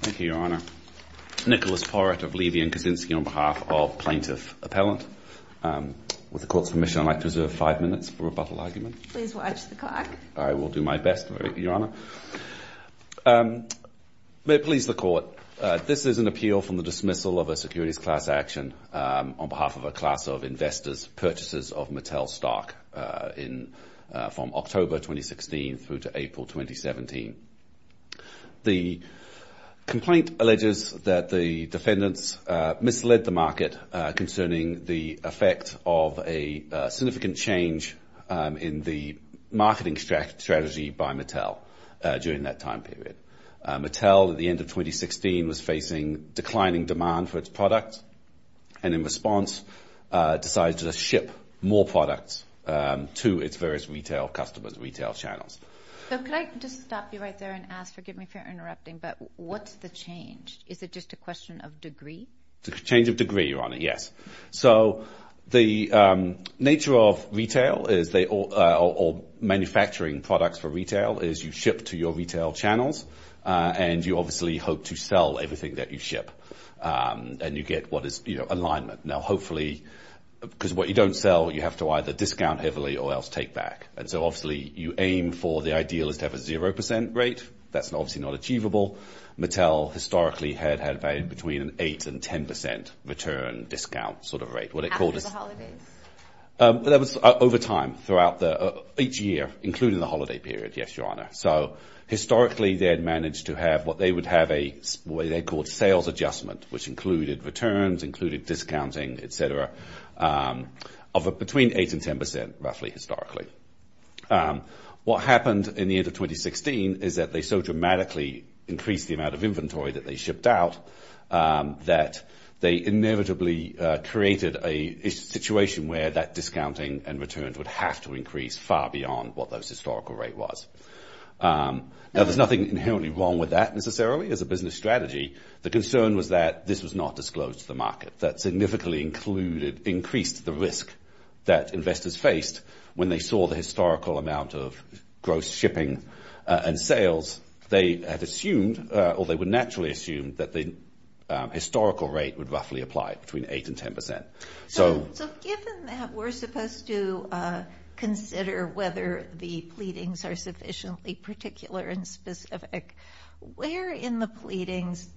Thank you, Your Honor. Nicholas Porrett of Levy & Kaczynski on behalf of Plaintiff Appellant. With the Court's permission, I'd like to reserve five minutes for rebuttal argument. Please watch the clock. I will do my best, Your Honor. May it please the Court, this is an appeal from the dismissal of a securities class action on behalf of a class of investors' purchases of Mattel stock from October 2016 through to April 2017. The complaint alleges that the defendants misled the market concerning the effect of a significant change in the marketing strategy by Mattel during that time period. Mattel, at the end of 2016, was facing declining demand for its product and in response decided to ship more products to its various retail customers, retail channels. So could I just stop you right there and ask, forgive me if you're interrupting, but what's the change? Is it just a question of degree? It's a change of degree, Your Honor, yes. So the nature of retail or manufacturing products for retail is you ship to your retail channels and you obviously hope to sell everything that you ship and you get what is alignment. Now, hopefully, because what you don't sell, you have to either discount heavily or else take back. And so obviously you aim for the ideal is to have a 0% rate. That's obviously not achievable. Mattel historically had had value between an 8% and 10% return discount sort of rate. After the holidays? That was over time throughout each year, including the holiday period, yes, Your Honor. So historically they had managed to have what they would have a way they called sales adjustment, which included returns, included discounting, et cetera, of between 8% and 10% roughly historically. What happened in the end of 2016 is that they so dramatically increased the amount of inventory that they shipped out that they inevitably created a situation where that discounting and returns would have to increase far beyond what those historical rate was. Now, there's nothing inherently wrong with that necessarily as a business strategy. The concern was that this was not disclosed to the market. That significantly increased the risk that investors faced when they saw the historical amount of gross shipping and sales. They had assumed or they would naturally assume that the historical rate would roughly apply between 8% and 10%. So given that we're supposed to consider whether the pleadings are sufficiently particular and specific, where in the pleadings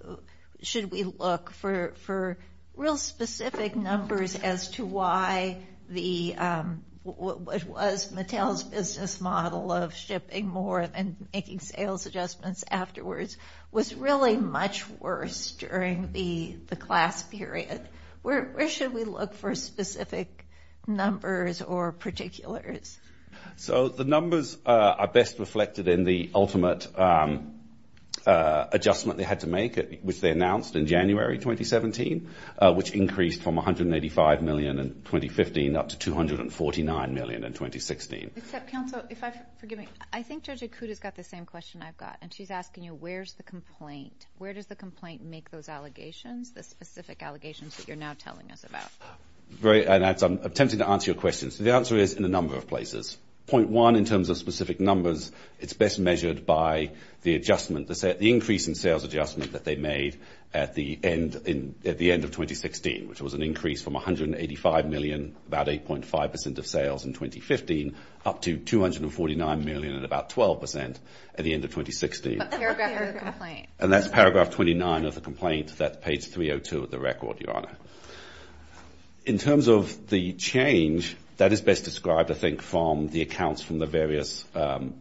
should we look for real specific numbers as to why what was Mattel's business model of shipping more and making sales adjustments afterwards was really much worse during the class period? Where should we look for specific numbers or particulars? So the numbers are best reflected in the ultimate adjustment they had to make, which they announced in January 2017, which increased from 185 million in 2015 up to 249 million in 2016. I think Judge Akuda's got the same question I've got, and she's asking you where's the complaint? Where does the complaint make those allegations, the specific allegations that you're now telling us about? I'm tempted to answer your question. So the answer is in a number of places. Point one, in terms of specific numbers, it's best measured by the adjustment, the increase in sales adjustment that they made at the end of 2016, which was an increase from 185 million, about 8.5% of sales in 2015, up to 249 million and about 12% at the end of 2016. But paragraph 29 of the complaint. And that's paragraph 29 of the complaint. That's page 302 of the record, Your Honor. In terms of the change, that is best described, I think, from the accounts from the various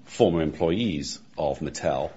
former employees of Mattel,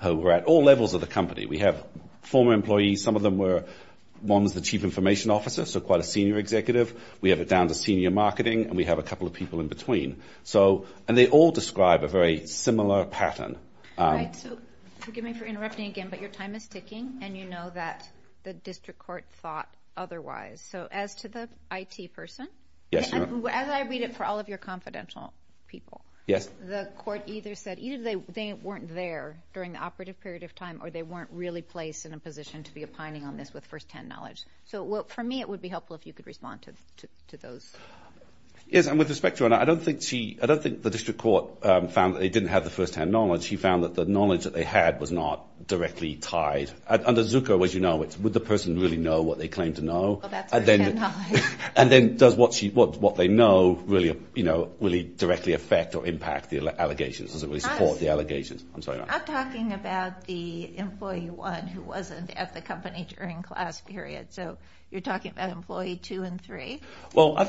who were at all levels of the company. We have former employees. Some of them were – one was the chief information officer, so quite a senior executive. We have it down to senior marketing, and we have a couple of people in between. So – and they all describe a very similar pattern. All right, so forgive me for interrupting again, but your time is ticking, and you know that the district court thought otherwise. So as to the IT person, as I read it for all of your confidential people, the court either said either they weren't there during the operative period of time or they weren't really placed in a position to be opining on this with firsthand knowledge. So, for me, it would be helpful if you could respond to those. Yes, and with respect, Your Honor, I don't think she – I don't think the district court found that they didn't have the firsthand knowledge. She found that the knowledge that they had was not directly tied. Under Zucco, as you know, it's would the person really know what they claim to know? Well, that's firsthand knowledge. And then does what she – what they know really, you know, really directly affect or impact the allegations? Does it really support the allegations? I'm sorry, Your Honor. I'm talking about the employee one who wasn't at the company during class period. So you're talking about employee two and three? Well, I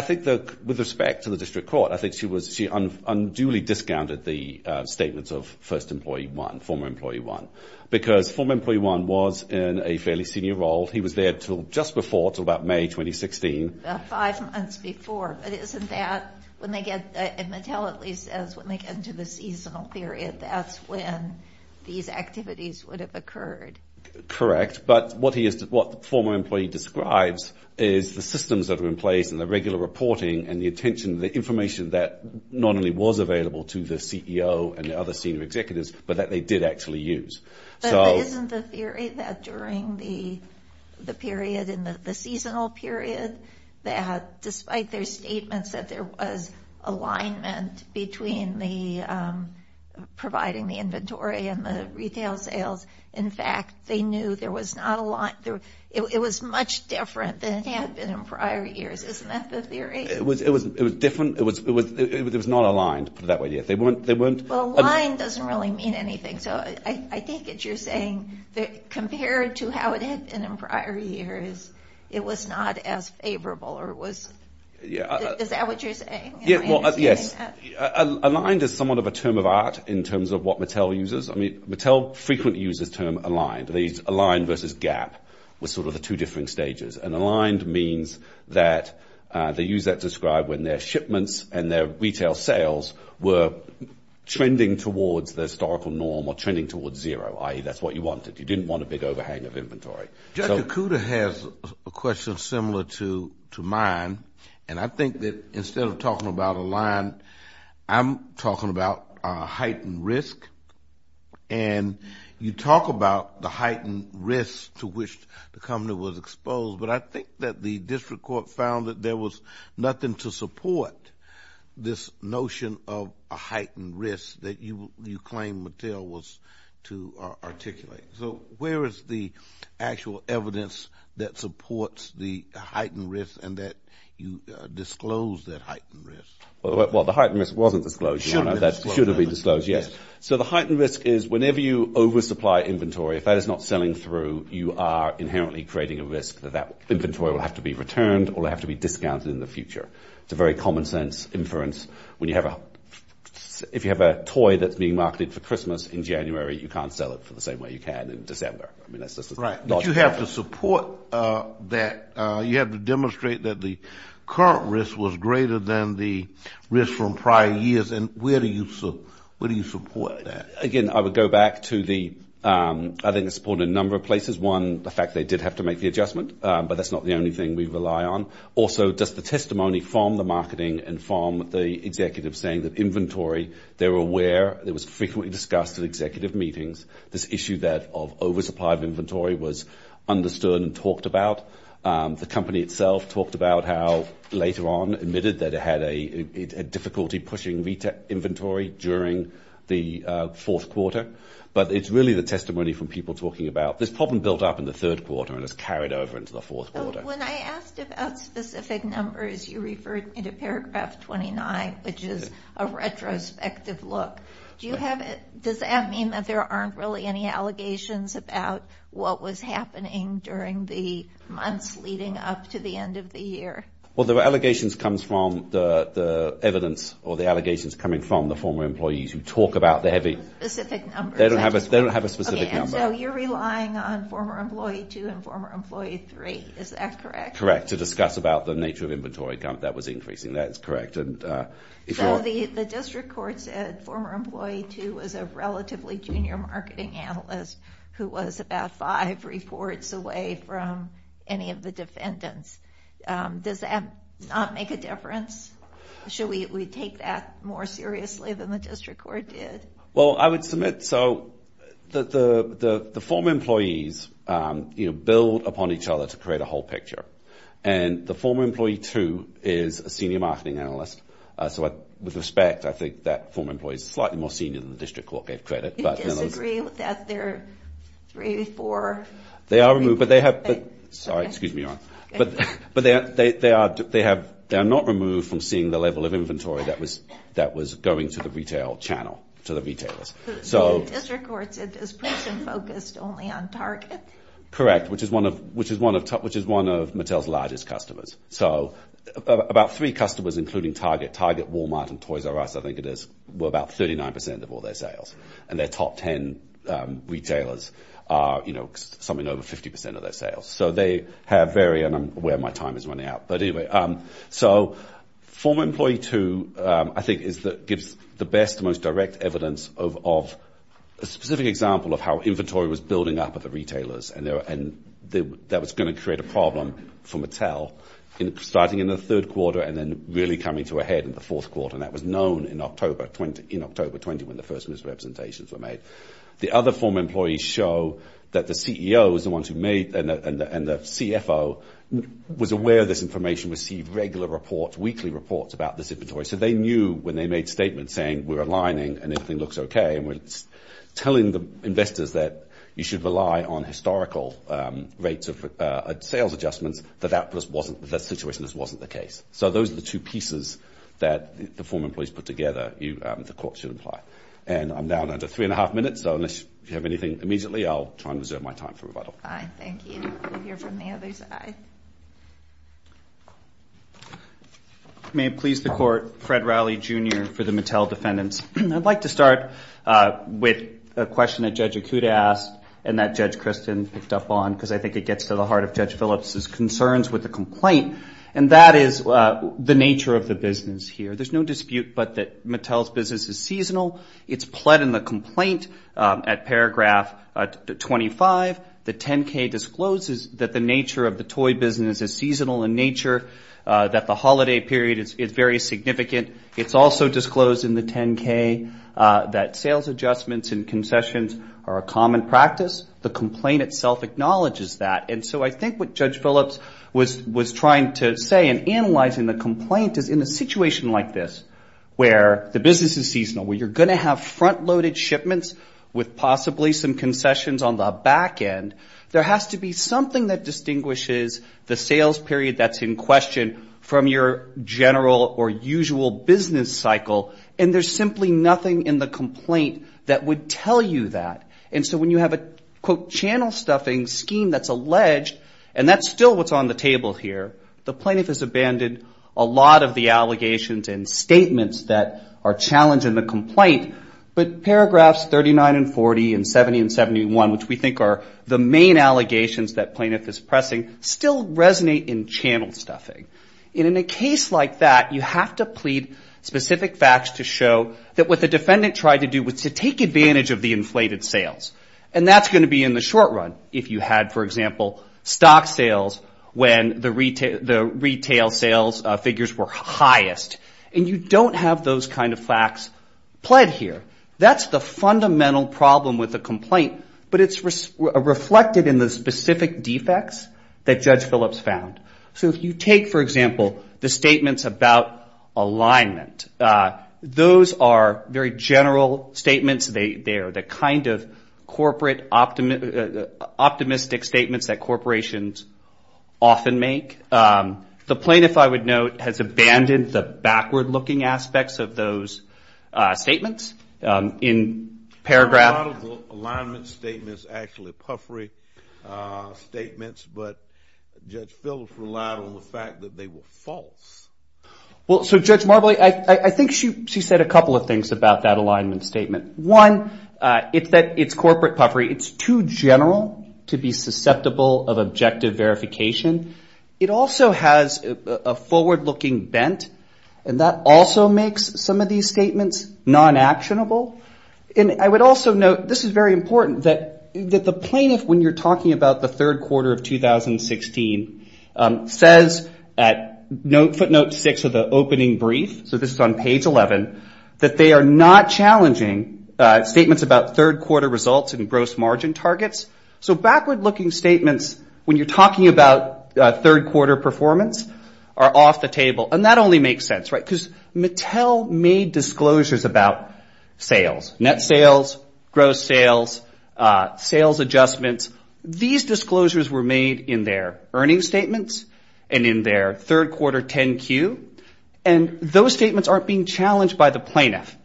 think that with respect to the district court, I think she unduly discounted the statements of first employee one, former employee one, because former employee one was in a fairly senior role. He was there until just before, until about May 2016. About five months before. But isn't that when they get – and Mattel at least says when they get into the seasonal period, that's when these activities would have occurred. Correct. But what he is – what the former employee describes is the systems that are in place and the regular reporting and the attention, the information that not only was available to the CEO and the other senior executives, but that they did actually use. But isn't the theory that during the period in the seasonal period that despite their statements that there was alignment between the – providing the inventory and the retail sales, in fact, they knew there was not a lot – it was much different than it had been in prior years. Isn't that the theory? It was different. It was not aligned, to put it that way. Well, aligned doesn't really mean anything. So I think that you're saying that compared to how it had been in prior years, it was not as favorable or it was – is that what you're saying? Yes. Aligned is somewhat of a term of art in terms of what Mattel uses. I mean, Mattel frequently uses the term aligned. Aligned versus gap was sort of the two different stages. And aligned means that they use that to describe when their shipments and their retail sales were trending towards the historical norm or trending towards zero, i.e., that's what you wanted. You didn't want a big overhang of inventory. Judge Okuda has a question similar to mine. And I think that instead of talking about aligned, I'm talking about heightened risk. And you talk about the heightened risk to which the company was exposed, but I think that the district court found that there was nothing to support this notion of a heightened risk that you claim Mattel was to articulate. So where is the actual evidence that supports the heightened risk and that you disclosed that heightened risk? Well, the heightened risk wasn't disclosed, Your Honor. It should have been disclosed. It should have been disclosed, yes. So the heightened risk is whenever you oversupply inventory, if that is not selling through, you are inherently creating a risk that that inventory will have to be returned or will have to be discounted in the future. It's a very common sense inference. If you have a toy that's being marketed for Christmas in January, you can't sell it for the same way you can in December. Right. But you have to support that. You have to demonstrate that the current risk was greater than the risk from prior years. And where do you support that? Again, I would go back to the, I think, the support in a number of places. One, the fact they did have to make the adjustment, but that's not the only thing we rely on. Also, just the testimony from the marketing and from the executives saying that inventory, they're aware, it was frequently discussed at executive meetings, this issue that of oversupply of inventory was understood and talked about. The company itself talked about how later on admitted that it had a difficulty pushing inventory during the fourth quarter. But it's really the testimony from people talking about this problem built up in the third quarter and it's carried over into the fourth quarter. When I asked about specific numbers, you referred me to paragraph 29, which is a retrospective look. Does that mean that there aren't really any allegations about what was happening during the months leading up to the end of the year? Well, the allegations comes from the evidence or the allegations coming from the former employees who talk about the heavy. Specific numbers. They don't have a specific number. So you're relying on former employee two and former employee three, is that correct? Correct. To discuss about the nature of inventory that was increasing, that's correct. So the district court said former employee two was a relatively junior marketing analyst who was about five reports away from any of the defendants. Does that not make a difference? Should we take that more seriously than the district court did? Well, I would submit so. The former employees build upon each other to create a whole picture. And the former employee two is a senior marketing analyst. So with respect, I think that former employee is slightly more senior than the district court gave credit. Do you disagree that they're three, four? They are removed. Sorry, excuse me, Ron. But they are not removed from seeing the level of inventory that was going to the retail channel, to the retailers. So the district court said this person focused only on Target? Correct, which is one of Mattel's largest customers. So about three customers, including Target, Target, Walmart, and Toys R Us, I think it is, were about 39% of all their sales. And their top 10 retailers are, you know, something over 50% of their sales. So they have very, and I'm aware my time is running out, but anyway. So former employee two, I think, gives the best, most direct evidence of a specific example of how inventory was building up at the retailers. And that was going to create a problem for Mattel, starting in the third quarter and then really coming to a head in the fourth quarter. And that was known in October 20 when the first misrepresentations were made. The other former employees show that the CEO was the one who made, and the CFO was aware of this information, received regular reports, weekly reports about this inventory. So they knew when they made statements saying we're aligning and everything looks okay and we're telling the investors that you should rely on historical rates of sales adjustments, that that situation just wasn't the case. So those are the two pieces that the former employees put together the court should imply. And I'm down under three and a half minutes, so unless you have anything immediately, I'll try and reserve my time for rebuttal. All right, thank you. We'll hear from the other side. May it please the Court, Fred Rowley, Jr. for the Mattel defendants. I'd like to start with a question that Judge Akuta asked and that Judge Kristen picked up on because I think it gets to the heart of Judge Phillips' concerns with the complaint, and that is the nature of the business here. There's no dispute but that Mattel's business is seasonal. It's pled in the complaint at paragraph 25. The 10-K discloses that the nature of the toy business is seasonal in nature, that the holiday period is very significant. It's also disclosed in the 10-K that sales adjustments and concessions are a common practice. The complaint itself acknowledges that. And so I think what Judge Phillips was trying to say in analyzing the complaint is in a situation like this where the business is seasonal, where you're going to have front-loaded shipments with possibly some concessions on the back end, there has to be something that distinguishes the sales period that's in question from your general or usual business cycle, and there's simply nothing in the complaint that would tell you that. And so when you have a, quote, channel-stuffing scheme that's alleged, and that's still what's on the table here, the plaintiff has abandoned a lot of the allegations and statements that are challenging the complaint, but paragraphs 39 and 40 and 70 and 71, which we think are the main allegations that plaintiff is pressing, still resonate in channel-stuffing. And in a case like that, you have to plead specific facts to show that what the defendant tried to do was to take advantage of the inflated sales. And that's going to be in the short run if you had, for example, stock sales when the retail sales figures were highest. And you don't have those kind of facts pled here. That's the fundamental problem with the complaint, but it's reflected in the specific defects that Judge Phillips found. So if you take, for example, the statements about alignment, those are very general statements. They are the kind of corporate optimistic statements that corporations often make. The plaintiff, I would note, has abandoned the backward-looking aspects of those statements. In paragraph- A lot of the alignment statements are actually puffery statements, but Judge Phillips relied on the fact that they were false. Well, so Judge Marbley, I think she said a couple of things about that alignment statement. One, it's corporate puffery. It's too general to be susceptible of objective verification. It also has a forward-looking bent, and that also makes some of these statements non-actionable. And I would also note, this is very important, that the plaintiff, when you're talking about the third quarter of 2016, says at footnote six of the opening brief, so this is on page 11, that they are not challenging statements about third quarter results and gross margin targets. So backward-looking statements, when you're talking about third quarter performance, are off the table. And that only makes sense, right, because Mattel made disclosures about sales, net sales, gross sales, sales adjustments. These disclosures were made in their earnings statements and in their third quarter 10-Q, and those statements aren't being challenged by the plaintiff.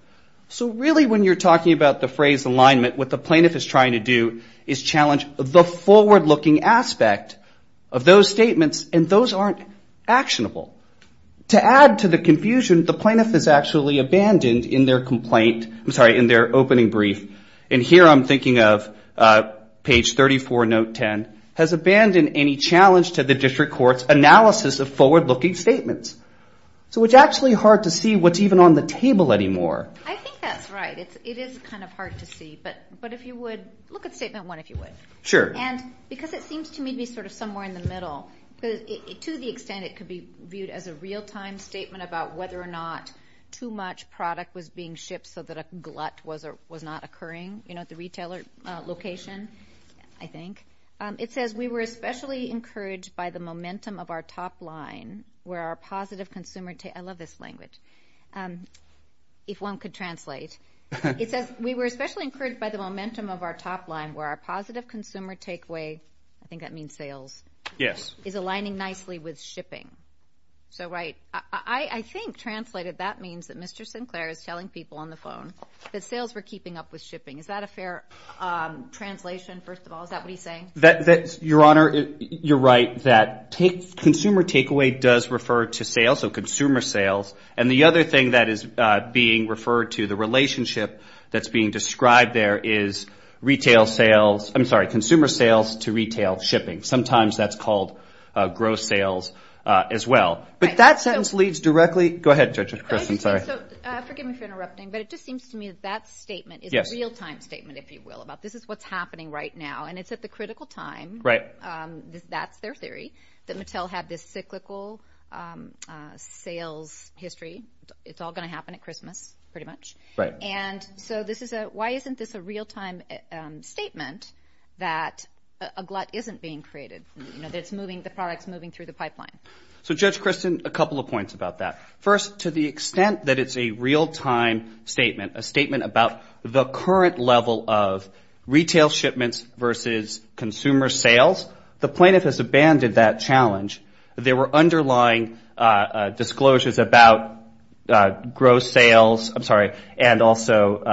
So really, when you're talking about the phrase alignment, what the plaintiff is trying to do is challenge the forward-looking aspect of those statements, and those aren't actionable. To add to the confusion, the plaintiff is actually abandoned in their complaint- I'm sorry, in their opening brief. And here I'm thinking of page 34, note 10, has abandoned any challenge to the district court's analysis of forward-looking statements. So it's actually hard to see what's even on the table anymore. I think that's right. It is kind of hard to see, but if you would look at statement one, if you would. Sure. And because it seems to me to be sort of somewhere in the middle, because to the extent it could be viewed as a real-time statement about whether or not too much product was being shipped so that a glut was not occurring, you know, at the retailer location, I think. It says, We were especially encouraged by the momentum of our top line where our positive consumer take- I love this language, if one could translate. It says, We were especially encouraged by the momentum of our top line where our positive consumer take- I think that means sales. Yes. Is aligning nicely with shipping. So, right. I think translated that means that Mr. Sinclair is telling people on the phone that sales were keeping up with shipping. Is that a fair translation, first of all? Is that what he's saying? Your Honor, you're right that consumer takeaway does refer to sales, so consumer sales. And the other thing that is being referred to, the relationship that's being described there, is retail sales-I'm sorry, consumer sales to retail shipping. Sometimes that's called gross sales as well. But that sentence leads directly-go ahead, Judge Kristen, sorry. Forgive me for interrupting, but it just seems to me that that statement is a real-time statement, if you will, about this is what's happening right now, and it's at the critical time. Right. That's their theory, that Mattel had this cyclical sales history. It's all going to happen at Christmas, pretty much. Right. And so this is a-why isn't this a real-time statement that a glut isn't being created? You know, it's moving-the product's moving through the pipeline. So, Judge Kristen, a couple of points about that. First, to the extent that it's a real-time statement, a statement about the current level of retail shipments versus consumer sales, the plaintiff has abandoned that challenge. There were underlying disclosures about gross sales-I'm sorry-and also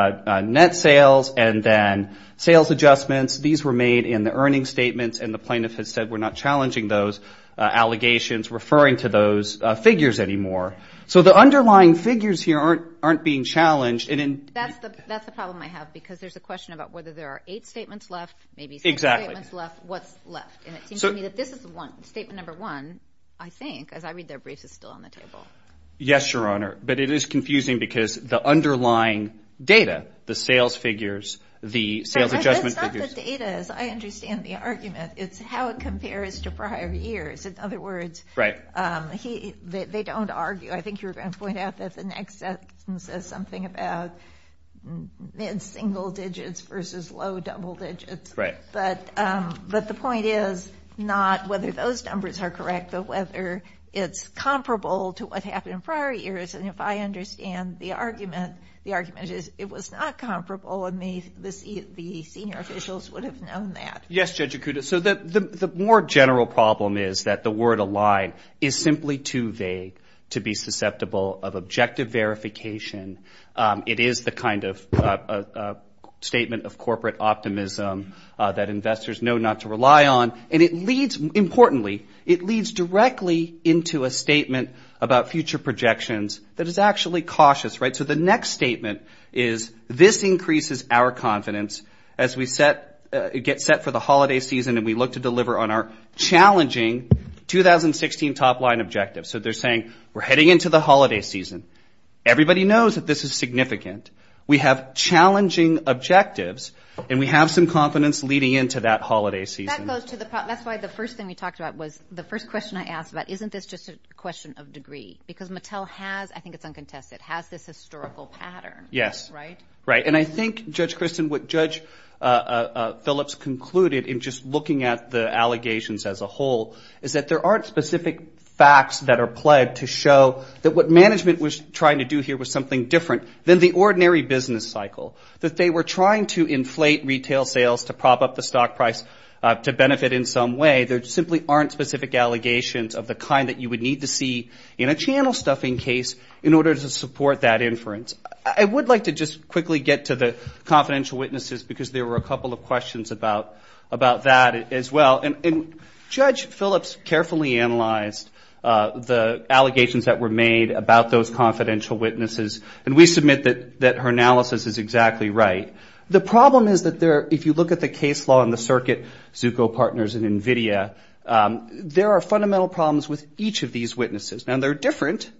net sales, and then sales adjustments. These were made in the earnings statements, and the plaintiff has said we're not challenging those allegations, referring to those figures anymore. So the underlying figures here aren't being challenged. That's the problem I have because there's a question about whether there are eight statements left, maybe six statements left. Exactly. What's left? And it seems to me that this is statement number one, I think, as I read their briefs, is still on the table. Yes, Your Honor, but it is confusing because the underlying data, the sales figures, the sales adjustment figures- It's how it compares to prior years. In other words, they don't argue. I think you were going to point out that the next sentence says something about mid-single digits versus low-double digits. Right. But the point is not whether those numbers are correct, but whether it's comparable to what happened in prior years. And if I understand the argument, the argument is it was not comparable, and the senior officials would have known that. Yes, Judge Okuda, so the more general problem is that the word align is simply too vague to be susceptible of objective verification. It is the kind of statement of corporate optimism that investors know not to rely on, and it leads, importantly, it leads directly into a statement about future projections that is actually cautious, right? So the next statement is this increases our confidence as we get set for the holiday season and we look to deliver on our challenging 2016 top-line objectives. So they're saying we're heading into the holiday season. Everybody knows that this is significant. We have challenging objectives, and we have some confidence leading into that holiday season. That's why the first thing we talked about was the first question I asked about, isn't this just a question of degree? Because Mattel has, I think it's uncontested, has this historical pattern. Yes. Right? Right. And I think, Judge Kristen, what Judge Phillips concluded in just looking at the allegations as a whole is that there aren't specific facts that are pled to show that what management was trying to do here was something different than the ordinary business cycle, that they were trying to inflate retail sales to prop up the stock price to benefit in some way. There simply aren't specific allegations of the kind that you would need to see in a channel stuffing case in order to support that inference. I would like to just quickly get to the confidential witnesses because there were a couple of questions about that as well. And Judge Phillips carefully analyzed the allegations that were made about those confidential witnesses, and we submit that her analysis is exactly right. The problem is that if you look at the case law in the circuit, Zucco Partners and NVIDIA, there are fundamental problems with each of these witnesses. Now, they're different,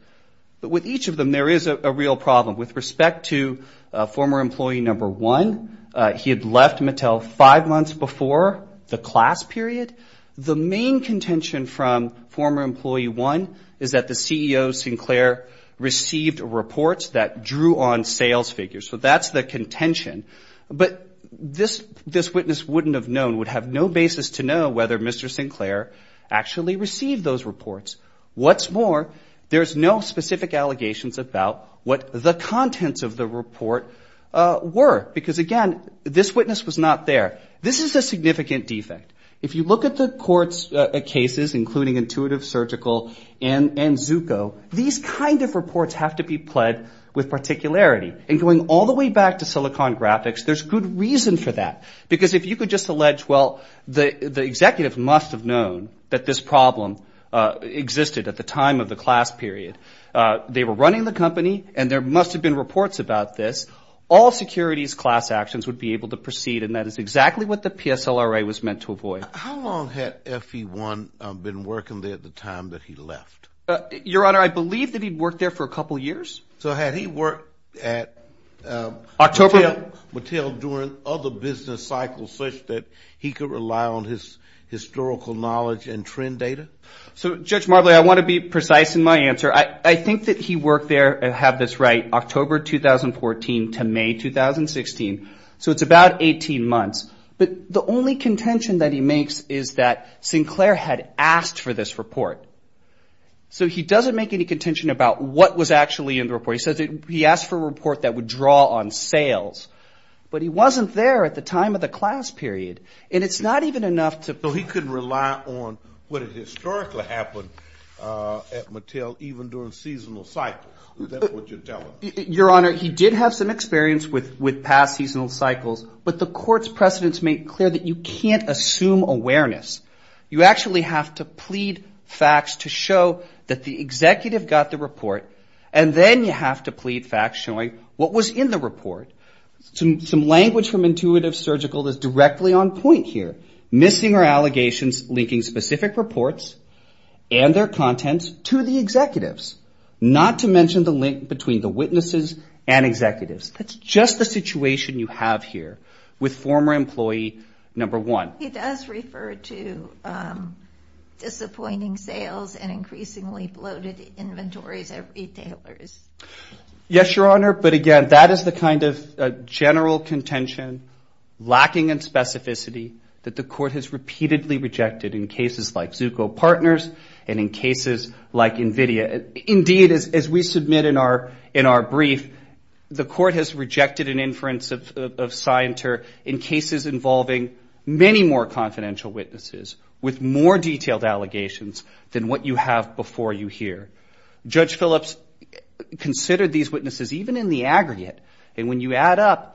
but with each of them there is a real problem. With respect to former employee number one, he had left Mattel five months before the class period. The main contention from former employee one is that the CEO, Sinclair, received reports that drew on sales figures. So that's the contention. But this witness wouldn't have known, would have no basis to know whether Mr. Sinclair actually received those reports. What's more, there's no specific allegations about what the contents of the report were, because, again, this witness was not there. This is a significant defect. If you look at the court's cases, including Intuitive Surgical and Zucco, these kind of reports have to be pled with particularity. And going all the way back to Silicon Graphics, there's good reason for that, because if you could just allege, well, the executive must have known that this problem existed at the time of the class period, they were running the company, and there must have been reports about this, all securities class actions would be able to proceed, and that is exactly what the PSLRA was meant to avoid. How long had FE1 been working there at the time that he left? Your Honor, I believe that he worked there for a couple of years. So had he worked at Mattel during other business cycles such that he could rely on his historical knowledge and trend data? So, Judge Marbley, I want to be precise in my answer. I think that he worked there, I have this right, October 2014 to May 2016, so it's about 18 months. But the only contention that he makes is that Sinclair had asked for this report. So he doesn't make any contention about what was actually in the report. He says he asked for a report that would draw on sales. But he wasn't there at the time of the class period. And it's not even enough to – So he couldn't rely on what had historically happened at Mattel, even during seasonal cycles. Is that what you're telling me? Your Honor, he did have some experience with past seasonal cycles. But the court's precedents make it clear that you can't assume awareness. You actually have to plead facts to show that the executive got the report. And then you have to plead facts showing what was in the report. Some language from Intuitive Surgical that's directly on point here. Missing or allegations linking specific reports and their contents to the executives. Not to mention the link between the witnesses and executives. That's just the situation you have here with former employee number one. He does refer to disappointing sales and increasingly bloated inventories at retailers. Yes, Your Honor. But, again, that is the kind of general contention lacking in specificity that the court has repeatedly rejected in cases like Zucco Partners and in cases like NVIDIA. Indeed, as we submit in our brief, the court has rejected an inference of Scienter in cases involving many more confidential witnesses with more detailed allegations than what you have before you here. Judge Phillips considered these witnesses even in the aggregate. And when you add up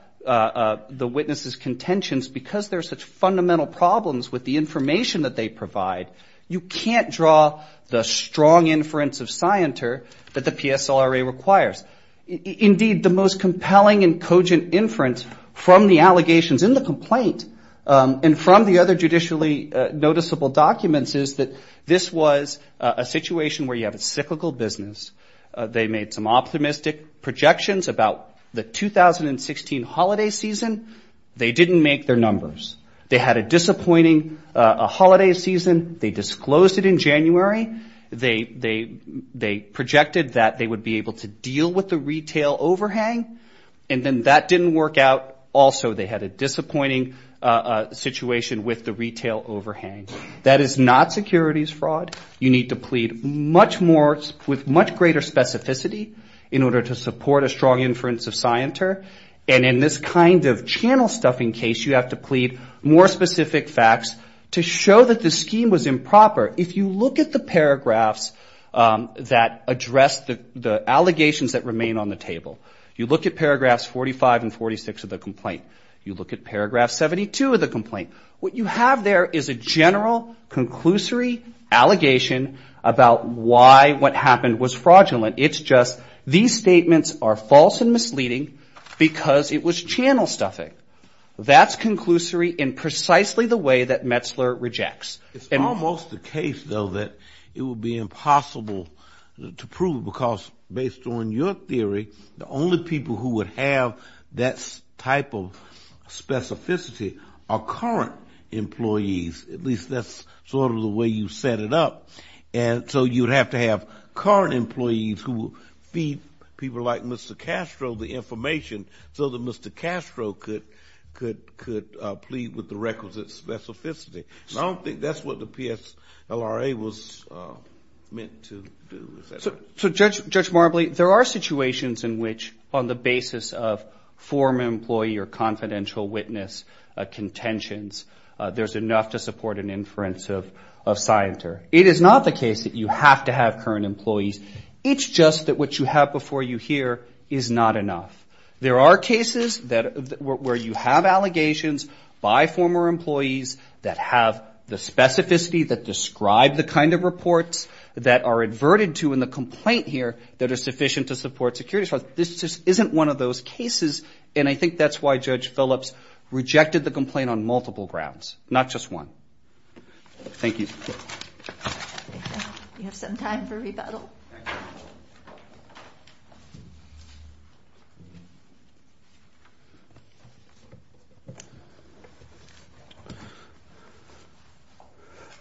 the witnesses' contentions, because there are such fundamental problems with the information that they provide, you can't draw the strong inference of Scienter that the PSLRA requires. Indeed, the most compelling and cogent inference from the allegations in the complaint and from the other judicially noticeable documents is that this was a situation where you have a cyclical business. They made some optimistic projections about the 2016 holiday season. They didn't make their numbers. They had a disappointing holiday season. They disclosed it in January. They projected that they would be able to deal with the retail overhang, and then that didn't work out. Also, they had a disappointing situation with the retail overhang. That is not securities fraud. You need to plead with much greater specificity in order to support a strong inference of Scienter. And in this kind of channel-stuffing case, you have to plead more specific facts to show that the scheme was improper. If you look at the paragraphs that address the allegations that remain on the table, you look at paragraphs 45 and 46 of the complaint, you look at paragraph 72 of the complaint, what you have there is a general, conclusory allegation about why what happened was fraudulent. It's just these statements are false and misleading because it was channel-stuffing. That's conclusory in precisely the way that Metzler rejects. It's almost the case, though, that it would be impossible to prove because based on your theory, the only people who would have that type of specificity are current employees, at least that's sort of the way you set it up. And so you'd have to have current employees who feed people like Mr. Castro the information so that Mr. Castro could plead with the requisite specificity. And I don't think that's what the PSLRA was meant to do. So, Judge Marbley, there are situations in which on the basis of former employee or confidential witness contentions, there's enough to support an inference of Scienter. It is not the case that you have to have current employees. It's just that what you have before you here is not enough. There are cases where you have allegations by former employees that have the specificity that describe the kind of reports that are adverted to in the complaint here that are sufficient to support security. This just isn't one of those cases, and I think that's why Judge Phillips rejected the complaint on multiple grounds, not just one. Thank you. We have some time for rebuttal.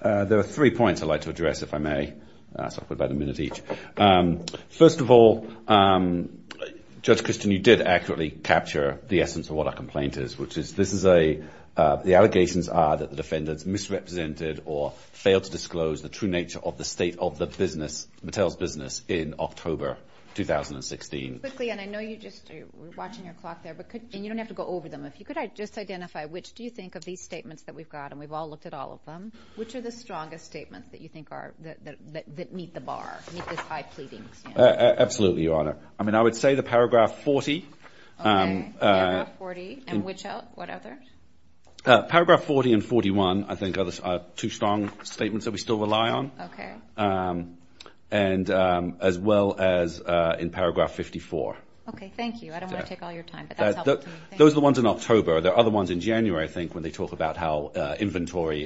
There are three points I'd like to address, if I may. So I'll put about a minute each. First of all, Judge Christin, you did accurately capture the essence of what a complaint is, which is the allegations are that the defendants misrepresented or failed to disclose the true nature of the state of the business, Mattel's business, in October 2016. Quickly, and I know you're just watching your clock there, and you don't have to go over them. If you could just identify which do you think of these statements that we've got, and we've all looked at all of them, which are the strongest statements that you think meet the bar, Absolutely, Your Honor. I mean, I would say the Paragraph 40. Okay, Paragraph 40. And which other? What other? Paragraph 40 and 41, I think, are two strong statements that we still rely on. Okay. And as well as in Paragraph 54. Okay, thank you. I don't want to take all your time, but that's helpful to me. Those are the ones in October. There are other ones in January, I think, when they talk about how inventory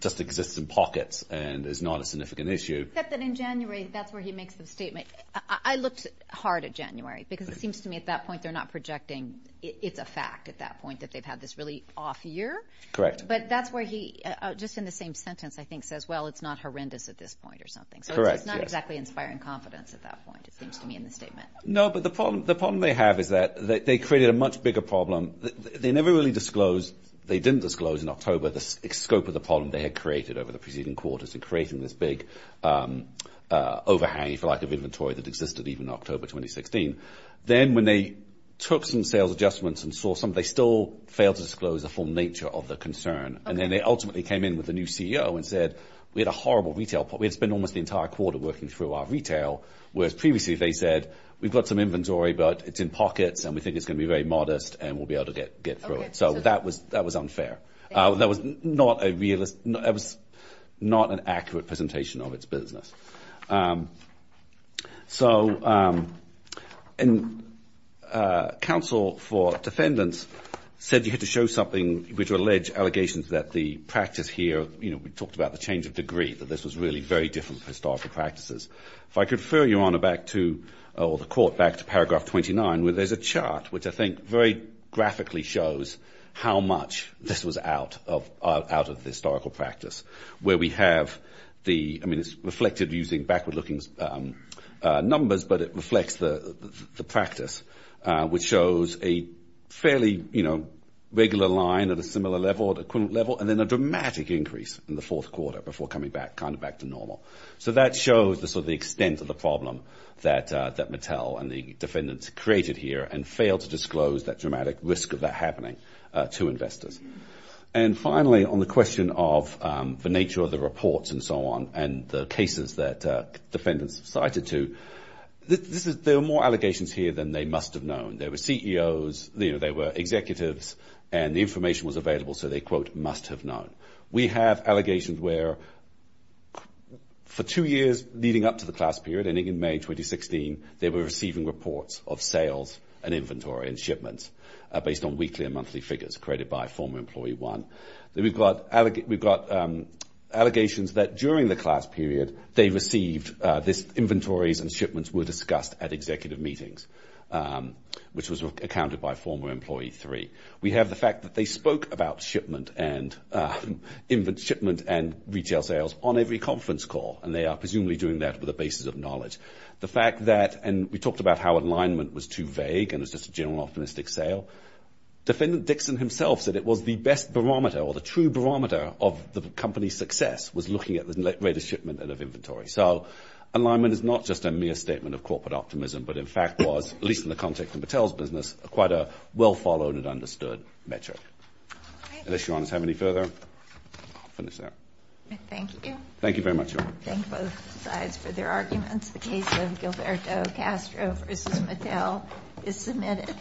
just exists in pockets and is not a significant issue. Except that in January, that's where he makes the statement. I looked hard at January, because it seems to me at that point they're not projecting it's a fact at that point that they've had this really off year. Correct. But that's where he, just in the same sentence, I think, says, well, it's not horrendous at this point or something. Correct, yes. So it's not exactly inspiring confidence at that point, it seems to me, in the statement. No, but the problem they have is that they created a much bigger problem. They never really disclosed, they didn't disclose in October, the scope of the problem they had created over the preceding quarters in creating this big overhang, if you like, of inventory that existed even in October 2016. Then when they took some sales adjustments and saw some, they still failed to disclose the full nature of the concern. And then they ultimately came in with a new CEO and said, we had a horrible retail, we had spent almost the entire quarter working through our retail, whereas previously they said, we've got some inventory, but it's in pockets, and we think it's going to be very modest, and we'll be able to get through it. So that was unfair. That was not a realist, that was not an accurate presentation of its business. So, and counsel for defendants said you had to show something, which would allege allegations that the practice here, you know, we talked about the change of degree, that this was really very different from historical practices. If I could refer your honor back to, or the court, back to paragraph 29, where there's a chart which I think very graphically shows how much this was out of the historical practice, where we have the, I mean, it's reflected using backward-looking numbers, but it reflects the practice, which shows a fairly, you know, regular line at a similar level, at equivalent level, and then a dramatic increase in the fourth quarter before coming back, kind of back to normal. So that shows the sort of extent of the problem that Mattel and the defendants created here, and failed to disclose that dramatic risk of that happening to investors. And finally, on the question of the nature of the reports and so on, and the cases that defendants cited to, there are more allegations here than they must have known. There were CEOs, you know, there were executives, and the information was available, so they, quote, must have known. We have allegations where for two years leading up to the class period, ending in May 2016, they were receiving reports of sales and inventory and shipments based on weekly and monthly figures created by former employee one. We've got allegations that during the class period, they received this inventories and shipments were discussed at executive meetings, which was accounted by former employee three. We have the fact that they spoke about shipment and retail sales on every conference call, and they are presumably doing that with a basis of knowledge. The fact that, and we talked about how alignment was too vague, and it was just a general optimistic sale. Defendant Dixon himself said it was the best barometer, or the true barometer of the company's success, was looking at the rate of shipment and of inventory. So alignment is not just a mere statement of corporate optimism, but in fact was, at least in the context of Mattel's business, quite a well-followed and understood metric. Unless Your Honors have any further, I'll finish there. Thank you. Thank you very much, Your Honor. Thank both sides for their arguments. The case of Gilberto Castro v. Mattel is submitted.